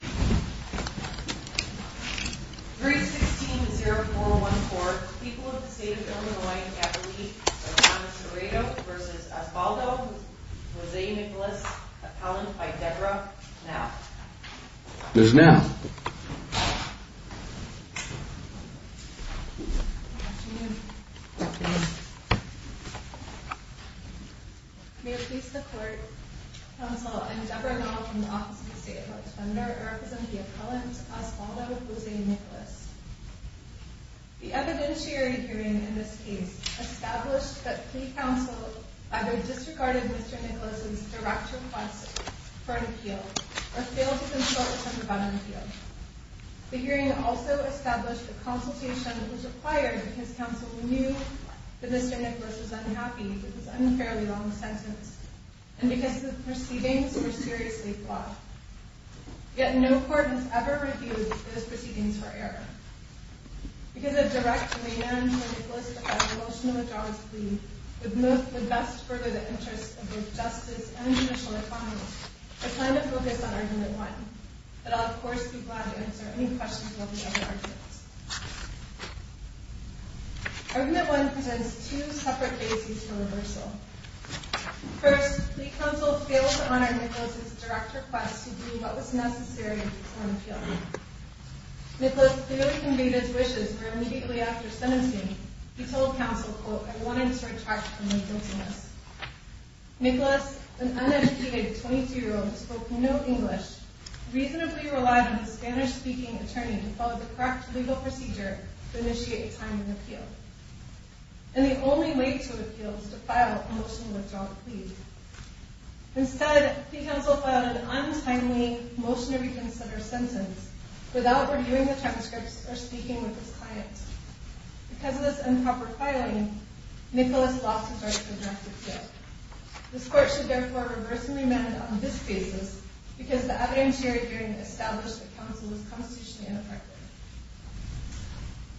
3-16-0-4-1-4 People of the State of Illinois have a leak of John Toretto v. Osvaldo v. Jose Nicolas appellant by Deborah Nowe. There's Nowe. Good afternoon. May it please the court, counsel, and Deborah Nowe from the Office of the State of Illinois defender of the appellant Osvaldo v. Jose Nicolas. The evidentiary hearing in this case established that plea counsel either disregarded Mr. Nicolas' direct request for an appeal or failed to consult with him about an appeal. The hearing also established that consultation was required because counsel knew that Mr. Nicolas was unhappy with his unfairly long sentence and because the proceedings were seriously flawed. Yet no court has ever refused those proceedings for error. Because of direct demand for Nicolas to file a motion of withdrawals plea would best further the interests of both justice and judicial economy, I plan to focus on Argument 1. But I'll of course be glad to answer any questions about the other arguments. Argument 1 presents two separate bases for reversal. First, plea counsel failed to honor Nicolas' direct request to do what was necessary to file an appeal. Nicolas clearly conveyed his wishes for immediately after sentencing. He told counsel, quote, I wanted to retract my guiltiness. Nicolas, an uneducated 22-year-old who spoke no English, reasonably relied on a Spanish-speaking attorney to follow the correct legal procedure to initiate a time of appeal. And the only way to appeal was to file a motion of withdrawal plea. Instead, plea counsel filed an untimely motion to reconsider sentence without reviewing the transcripts or speaking with his client. Because of this improper filing, Nicolas lost his right to address his guilt. This court should therefore reverse and remand on this basis because the evidentiary hearing established that counsel was constitutionally ineffective.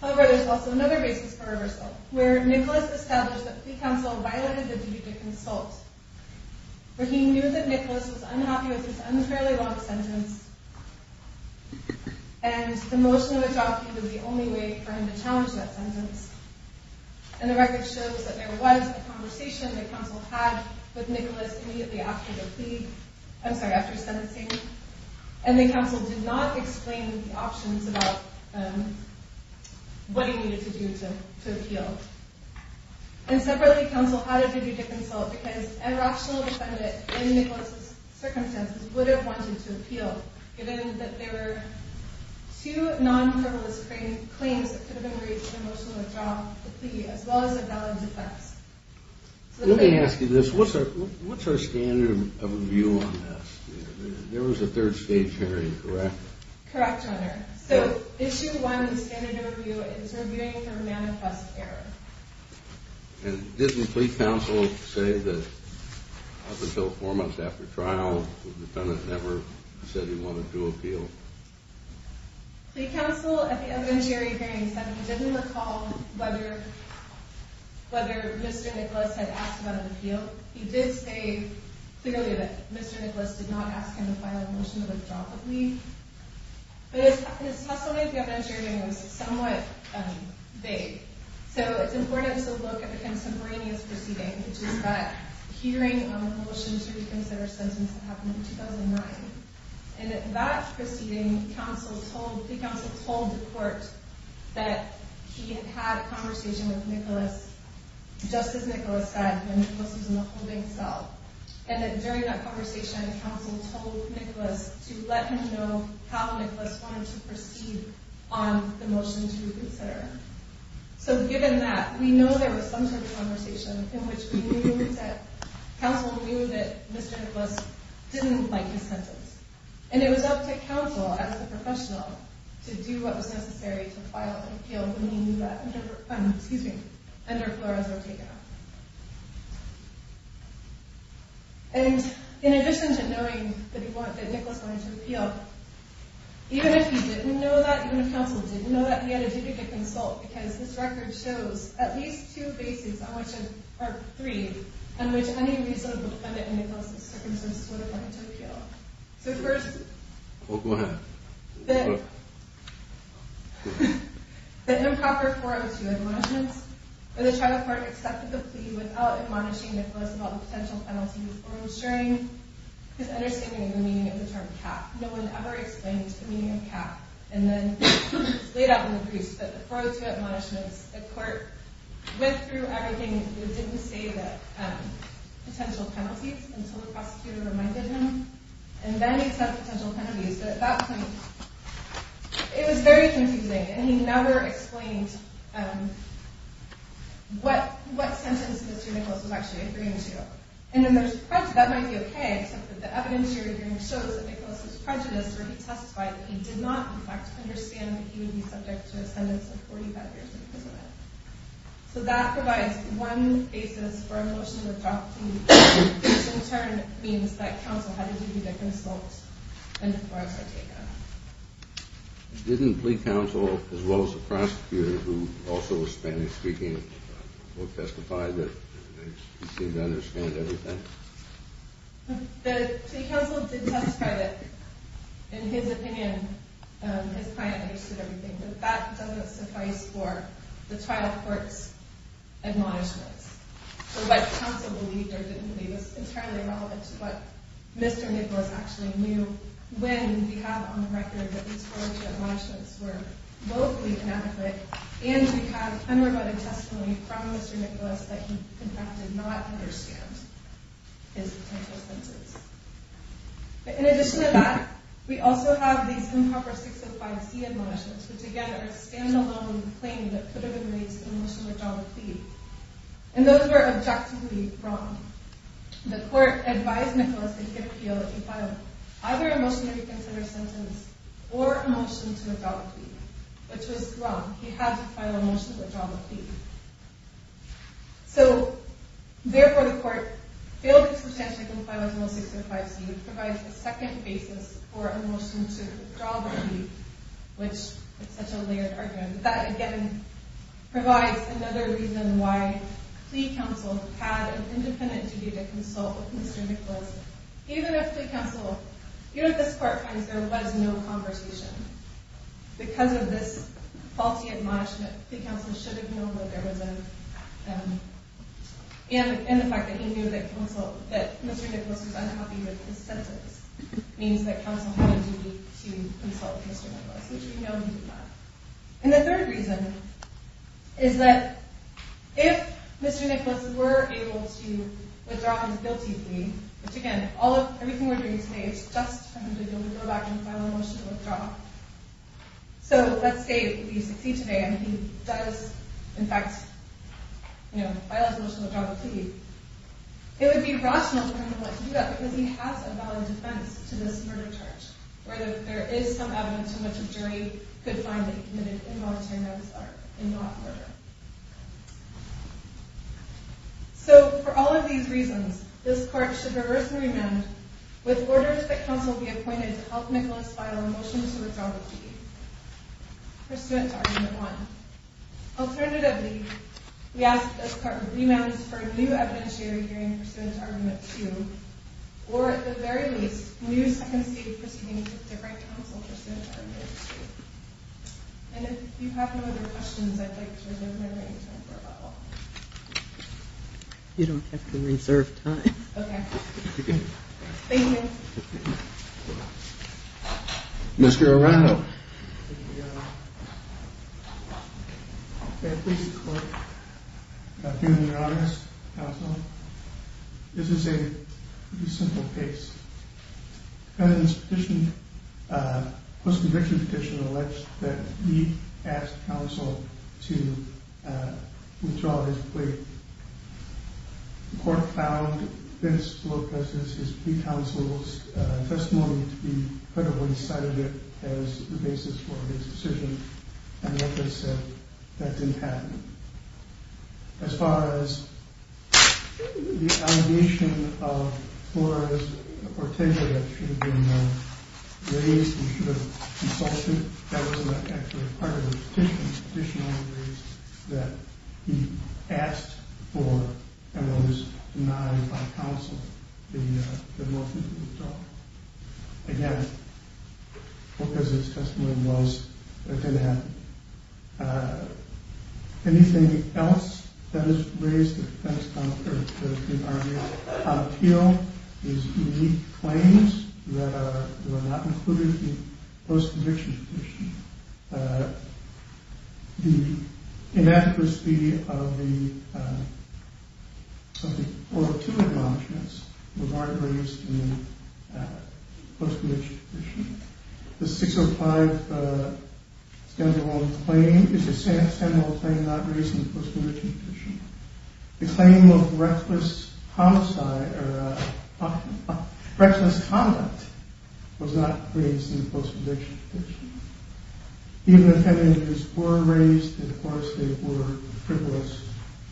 However, there's also another basis for reversal, where Nicolas established that plea counsel violated the duty to consult. For he knew that Nicolas was unhappy with his unfairly long sentence, and the motion of withdrawal plea was the only way for him to challenge that sentence. And the record shows that there was a conversation that counsel had with Nicolas immediately after the plea, I'm sorry, after sentencing. And that counsel did not explain the options about what he needed to do to appeal. And separately, counsel had a duty to consult because a rational defendant in Nicolas' circumstances would have wanted to appeal, given that there were two non-criminalist claims that could have been reached with a motion of withdrawal plea, as well as a valid defense. Let me ask you this. What's our standard of review on this? There was a third stage hearing, correct? Correct, Your Honor. So, issue one, standard of review, is reviewing for manifest error. And didn't plea counsel say that up until four months after trial, the defendant never said he wanted to appeal? Plea counsel, at the evidentiary hearing, said he didn't recall whether Mr. Nicolas had asked about an appeal. He did say clearly that Mr. Nicolas did not ask him to file a motion to withdraw the plea. But at the testimony at the evidentiary hearing, it was somewhat vague. So, it's important to look at the contemporaneous proceeding, which is that hearing on the motion to reconsider a sentence that happened in 2009. And at that proceeding, plea counsel told the court that he had had a conversation with Nicolas, just as Nicolas had when Nicolas was in the holding cell. And that during that conversation, counsel told Nicolas to let him know how Nicolas wanted to proceed on the motion to reconsider. So, given that, we know there was some sort of conversation in which we knew that counsel knew that Mr. Nicolas didn't like his sentence. And it was up to counsel, as the professional, to do what was necessary to file an appeal when he knew that under Flores were taken off. And, in addition to knowing that Nicolas wanted to appeal, even if he didn't know that, even if counsel didn't know that, he had a duty to consult. Because this record shows at least two cases, or three, in which any reasonable defendant in Nicolas' circumstances would have wanted to appeal. So, first, the improper 402 admonishments, where the trial court accepted the plea without admonishing Nicolas about the potential penalties or ensuring his understanding of the meaning of the term cap. No one ever explained the meaning of cap. And then, it's laid out in the briefs, but the 402 admonishments, the court went through everything. It didn't say the potential penalties until the prosecutor reminded him. And then he said potential penalties. So, at that point, it was very confusing. And he never explained what sentence Mr. Nicolas was actually agreeing to. And then there's prejudice. That might be okay, except that the evidence you're hearing shows that Nicolas was prejudiced, or he testified that he did not, in fact, understand that he would be subject to a sentence of 45 years in prison. So, that provides one basis for a motion to adopt. Which, in turn, means that counsel had a duty to consult when Flores were taken off. Didn't plea counsel, as well as the prosecutor, who also was Spanish-speaking, testify that he seemed to understand everything? The plea counsel did testify that, in his opinion, his client understood everything. But that doesn't suffice for the trial court's admonishments. So, what counsel believed or didn't believe is entirely relevant to what Mr. Nicolas actually knew. When we have on the record that these 402 admonishments were both inadequate, and we have unrebutted testimony from Mr. Nicolas that he, in fact, did not understand his potential sentences. In addition to that, we also have these improper 605C admonishments, which, again, are a standalone claim that could have been raised in a motion to adopt a plea. And those were objectively wrong. The court advised Mr. Nicolas that he could appeal if he filed either a motion to reconsider a sentence or a motion to adopt a plea. Which was wrong. He had to file a motion to adopt a plea. So, therefore, the court failed to substantially comply with 605C, which provides a second basis for a motion to withdraw the plea. Which is such a layered argument. But that, again, provides another reason why plea counsel had an independent duty to consult with Mr. Nicolas. Even if plea counsel, even if this court finds there was no conversation, because of this faulty admonishment, plea counsel should have known that there was a... And the fact that he knew that Mr. Nicolas was unhappy with his sentence means that counsel had a duty to consult with Mr. Nicolas, which we know he did not. And the third reason is that if Mr. Nicolas were able to withdraw his guilty plea, which, again, everything we're doing today is just for him to be able to go back and file a motion to withdraw. So, let's say we succeed today and he does, in fact, file a motion to withdraw the plea. It would be rational for him to do that because he has a valid defense to this murder charge. Where there is some evidence in which a jury could find that he committed involuntary manslaughter and not murder. So, for all of these reasons, this court should reverse the remand with orders that counsel be appointed to help Nicolas file a motion to withdraw the plea. Pursuant to argument 1. Alternatively, we ask that this court remands for a new evidentiary hearing pursuant to argument 2. Or, at the very least, new second stage proceedings to write counsel pursuant to argument 2. And if you have no other questions, I'd like to reserve my time for a bubble. You don't have to reserve time. Okay. Thank you. Mr. Arando. Thank you, Your Honor. At this court, I feel in your honor, counsel, this is a pretty simple case. The defendant's post-conviction petition alleged that he asked counsel to withdraw his plea. The court found this to be his plea counsel's testimony to be credible. He cited it as the basis for his decision. And like I said, that didn't happen. As far as the allegation of Flores Ortega that should have been raised, he should have consulted. That wasn't actually part of the petition. The petition only raised that he asked for and was denied by counsel the motion to withdraw. Again, because his testimony was, it didn't happen. Anything else that has raised the defense, or the argument, appeal his unique claims that were not included in the post-conviction petition. The inaccuracy of the oral two acknowledgments were not raised in the post-conviction petition. The 605 scandal claim is the same old claim not raised in the post-conviction petition. The claim of reckless homicide, or reckless conduct, was not raised in the post-conviction petition. Even if any of these were raised, of course they were frivolous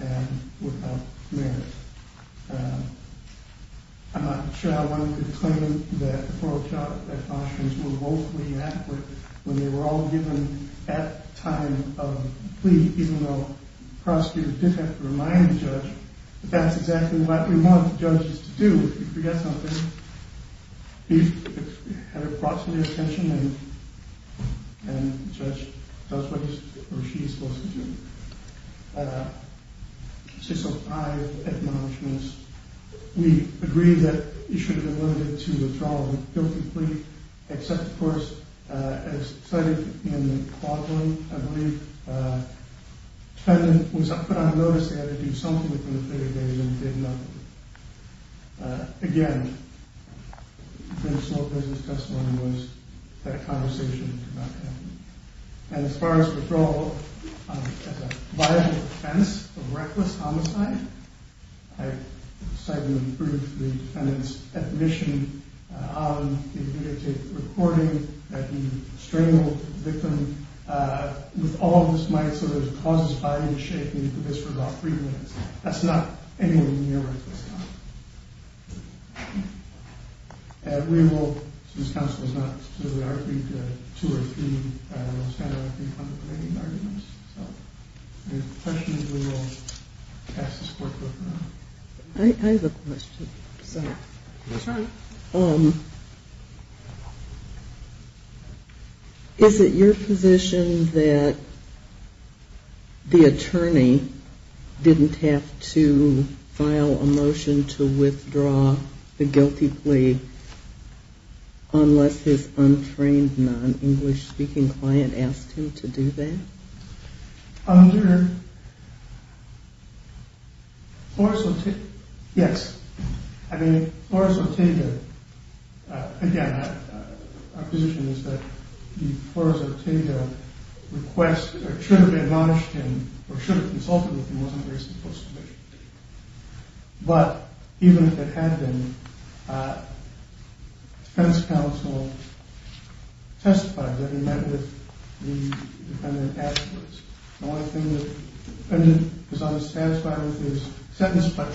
and without merit. I'm not sure how one could claim that the oral acknowledgments were woefully inadequate when they were all given at the time of the plea, even though the prosecutor did have to remind the judge that that's exactly what you want judges to do. If you forget something, you have it brought to their attention and the judge does what he or she is supposed to do. The 605 acknowledgments, we agree that it should have been limited to the withdrawal of the guilty plea, except of course, as cited in the quadrant, I believe, the defendant was put on notice that he had to do something within a period of days and did nothing. Again, the sole business testimony was that a conversation did not happen. And as far as withdrawal, as a viable offense of reckless homicide, I cite in the brief the defendant's admission on the videotape recording that he strangled the victim with all of his might so that his cause was barely in shape and he could do this for about three minutes. That's not anywhere near reckless homicide. We will, since counsel has not stood with our three, two or three, I don't know, standard three contemplating arguments. So if there are questions, we will pass this workbook now. Go ahead. Is it your position that the attorney didn't have to file a motion to withdraw the guilty plea unless his untrained non-English speaking client asked him to do that? Yes. I mean, again, our position is that the request should have been acknowledged or should have consulted with him. But even if it had been, the defense counsel testified that he met with the defendant afterwards. The only thing that the defendant was not satisfied with his sentence, but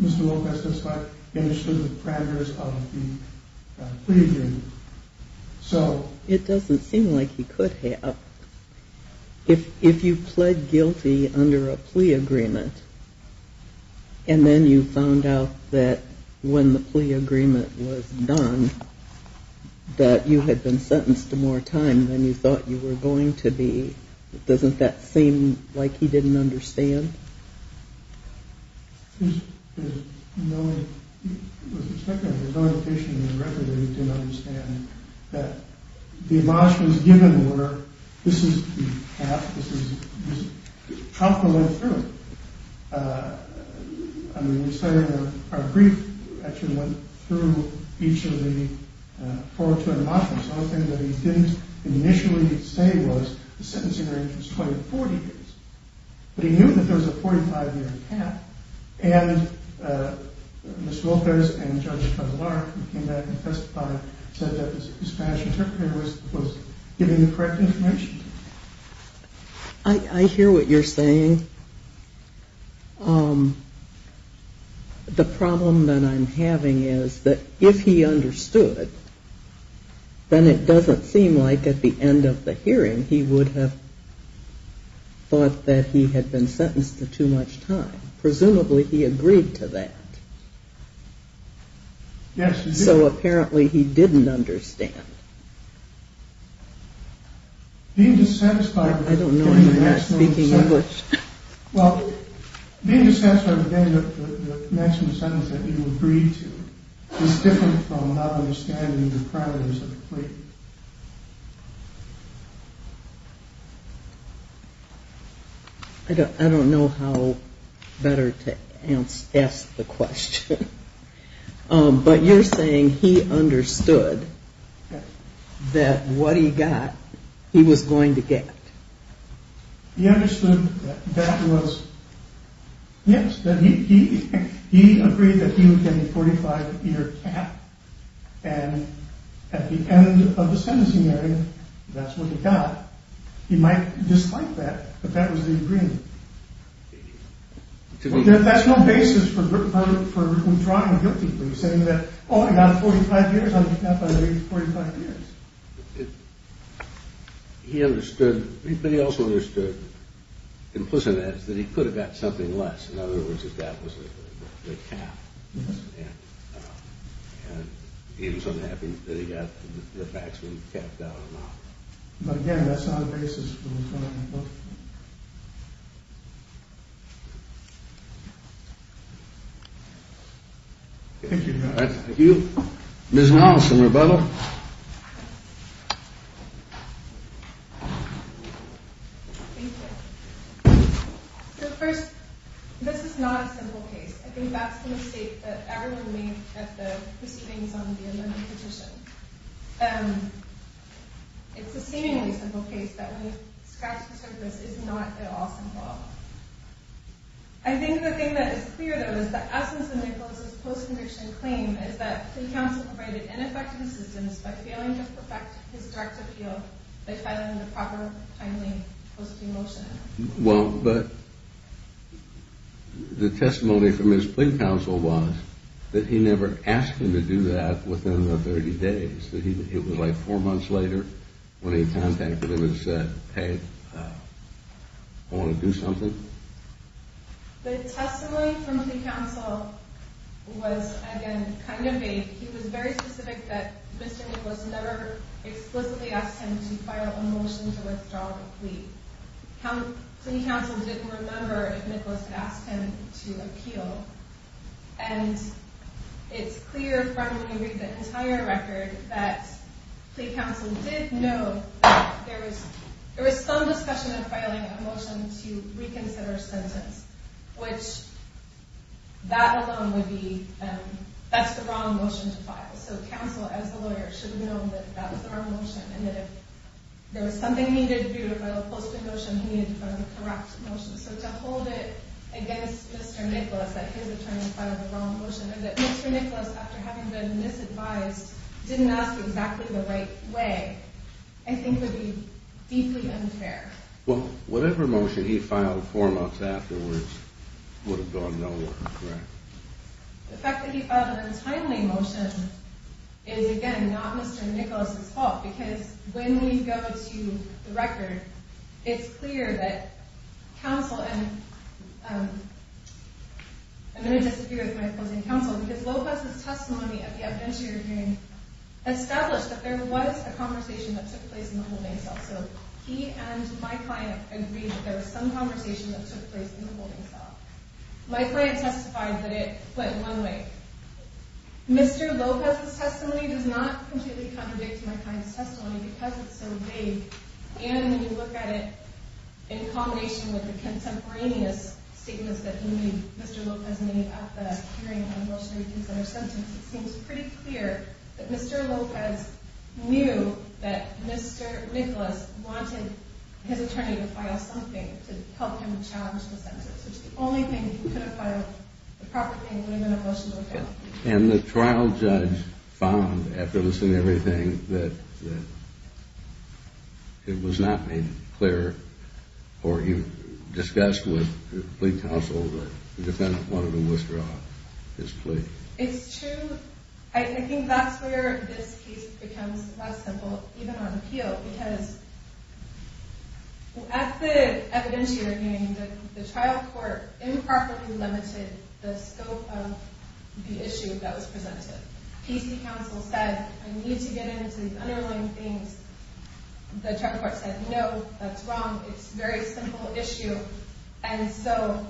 Mr. Wilk has testified that he understood the parameters of the plea agreement. It doesn't seem like he could have. If you pled guilty under a plea agreement and then you found out that when the plea agreement was done that you had been sentenced to more time than you thought you were going to be, doesn't that seem like he didn't understand? No. With respect to that, there's no indication in the record that he didn't understand that the emotions given were, this is the path, this is how it went through. I mean, we're saying our brief actually went through each of the four or two emotions. The only thing that he didn't initially say was the sentencing range was 20 to 40 years. But he knew that there was a 45-year path and Mr. Wilkers and Judge Cotillard, who came back and testified, said that the Spanish interpreter was giving the correct information. I hear what you're saying. The problem that I'm having is that if he understood, then it doesn't seem like at the end of the hearing he would have thought that he had been sentenced to too much time, and presumably he agreed to that. Yes, he did. So apparently he didn't understand. I don't know, you're not speaking English. Well, being dissatisfied with the maximum sentence that you agreed to I don't know how better to ask the question. But you're saying he understood that what he got, he was going to get. He understood that was, yes, he agreed that he would get a 45-year cap and at the end of the sentencing area, that's what he got. He might dislike that, but that was the agreement. That's no basis for withdrawing a guilty plea, saying that, oh, I got a 45 years, I'll get that by the age of 45 years. He understood, but he also understood, implicitly, that he could have got something less. In other words, that that was the cap. And he was unhappy that he got the maximum cap down on that. But again, that's not a basis for withdrawing a guilty plea. Thank you, Your Honor. Thank you. Ms. Nelson, rebuttal. Thank you. So first, this is not a simple case. I think that's the mistake that everyone made at the proceedings on the amendment petition. It's a seemingly simple case, but when you scratch the surface, it's not at all simple. I think the thing that is clear, though, is that Aspenson-Nicholas' post-conviction claim is that the counsel provided ineffective assistance by failing to perfect his direct appeal so they filed him the proper, timely post-conviction motion. Well, but the testimony from his plea counsel was that he never asked him to do that within the 30 days. It was like four months later when he contacted him and said, hey, I want to do something. The testimony from plea counsel was, again, kind of vague. He was very specific that Mr. Nicholas never explicitly asked him to file a motion to withdraw the plea. Plea counsel didn't remember if Nicholas had asked him to appeal. And it's clear from when you read the entire record that plea counsel did know that there was some discussion in filing a motion to reconsider a sentence, which that alone would be, that's the wrong motion to file. So counsel, as a lawyer, should know that that was the wrong motion and that if there was something he needed to do to file a post-conviction motion, he needed to file the correct motion. So to hold it against Mr. Nicholas that his attorney filed the wrong motion or that Mr. Nicholas, after having been misadvised, didn't ask exactly the right way, I think would be deeply unfair. Well, whatever motion he filed four months afterwards would have gone nowhere, correct? The fact that he filed an untimely motion is, again, not Mr. Nicholas' fault because when we go to the record, it's clear that counsel, and I'm going to disagree with my opposing counsel, because Lopez's testimony at the evidentiary hearing established that there was a conversation that took place in the holding cell. So he and my client agreed that there was some conversation that took place in the holding cell. My client testified that it went one way. Mr. Lopez's testimony does not completely contradict my client's testimony because it's so vague. And when you look at it in combination with the contemporaneous statements that Mr. Lopez made at the hearing on Rochelle Ekins and her sentence, it seems pretty clear that Mr. Lopez knew that Mr. Nicholas wanted his attorney to file something to help him challenge the sentence, which is the only thing he could have filed. The proper thing would have been a motion to appeal. And the trial judge found, after listening to everything, that it was not made clear, or you discussed with the plea counsel, that the defendant wanted to withdraw his plea. It's true. I think that's where this case becomes less simple, even on appeal, because at the evidence hearing, the trial court improperly limited the scope of the issue that was presented. PC counsel said, I need to get into the underlying themes. The trial court said, no, that's wrong. It's a very simple issue. And so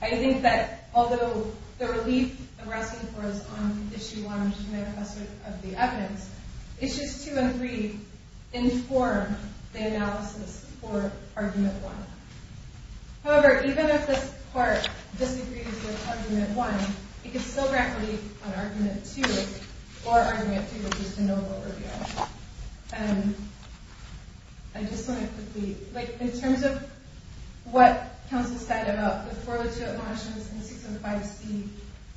I think that, although the relief that we're asking for is on issue one, which is a manifesto of the evidence, issues two and three inform the analysis for argument one. However, even if this court disagrees with argument one, it could still grant relief on argument two, or argument three, which is the no vote review. And I just want to quickly, like, in terms of what counsel said about the 402 at Washington and 605C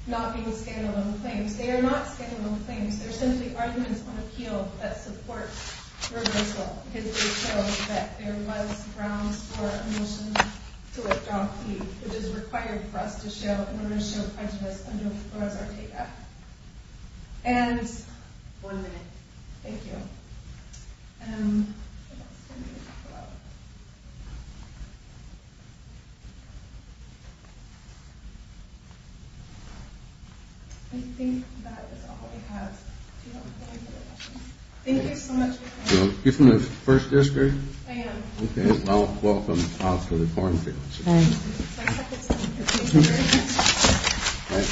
not being a scandal of claims, they are not scandal of claims. They're simply arguments on appeal that support reversal, because they show that there was grounds for a motion to withdraw a plea, which is required for us to show, in order to show prejudice under the Flores-Arteaga. And... One minute. Thank you. Um... I think that is all I have. Do you have a point for the question? Thank you so much. You're from the First District? I am. Okay, well, welcome to the Court of Appeal. Thank you.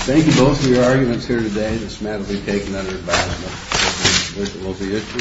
Thank you both for your arguments here today. This matter will be taken under advisement. Thank you. Thank you.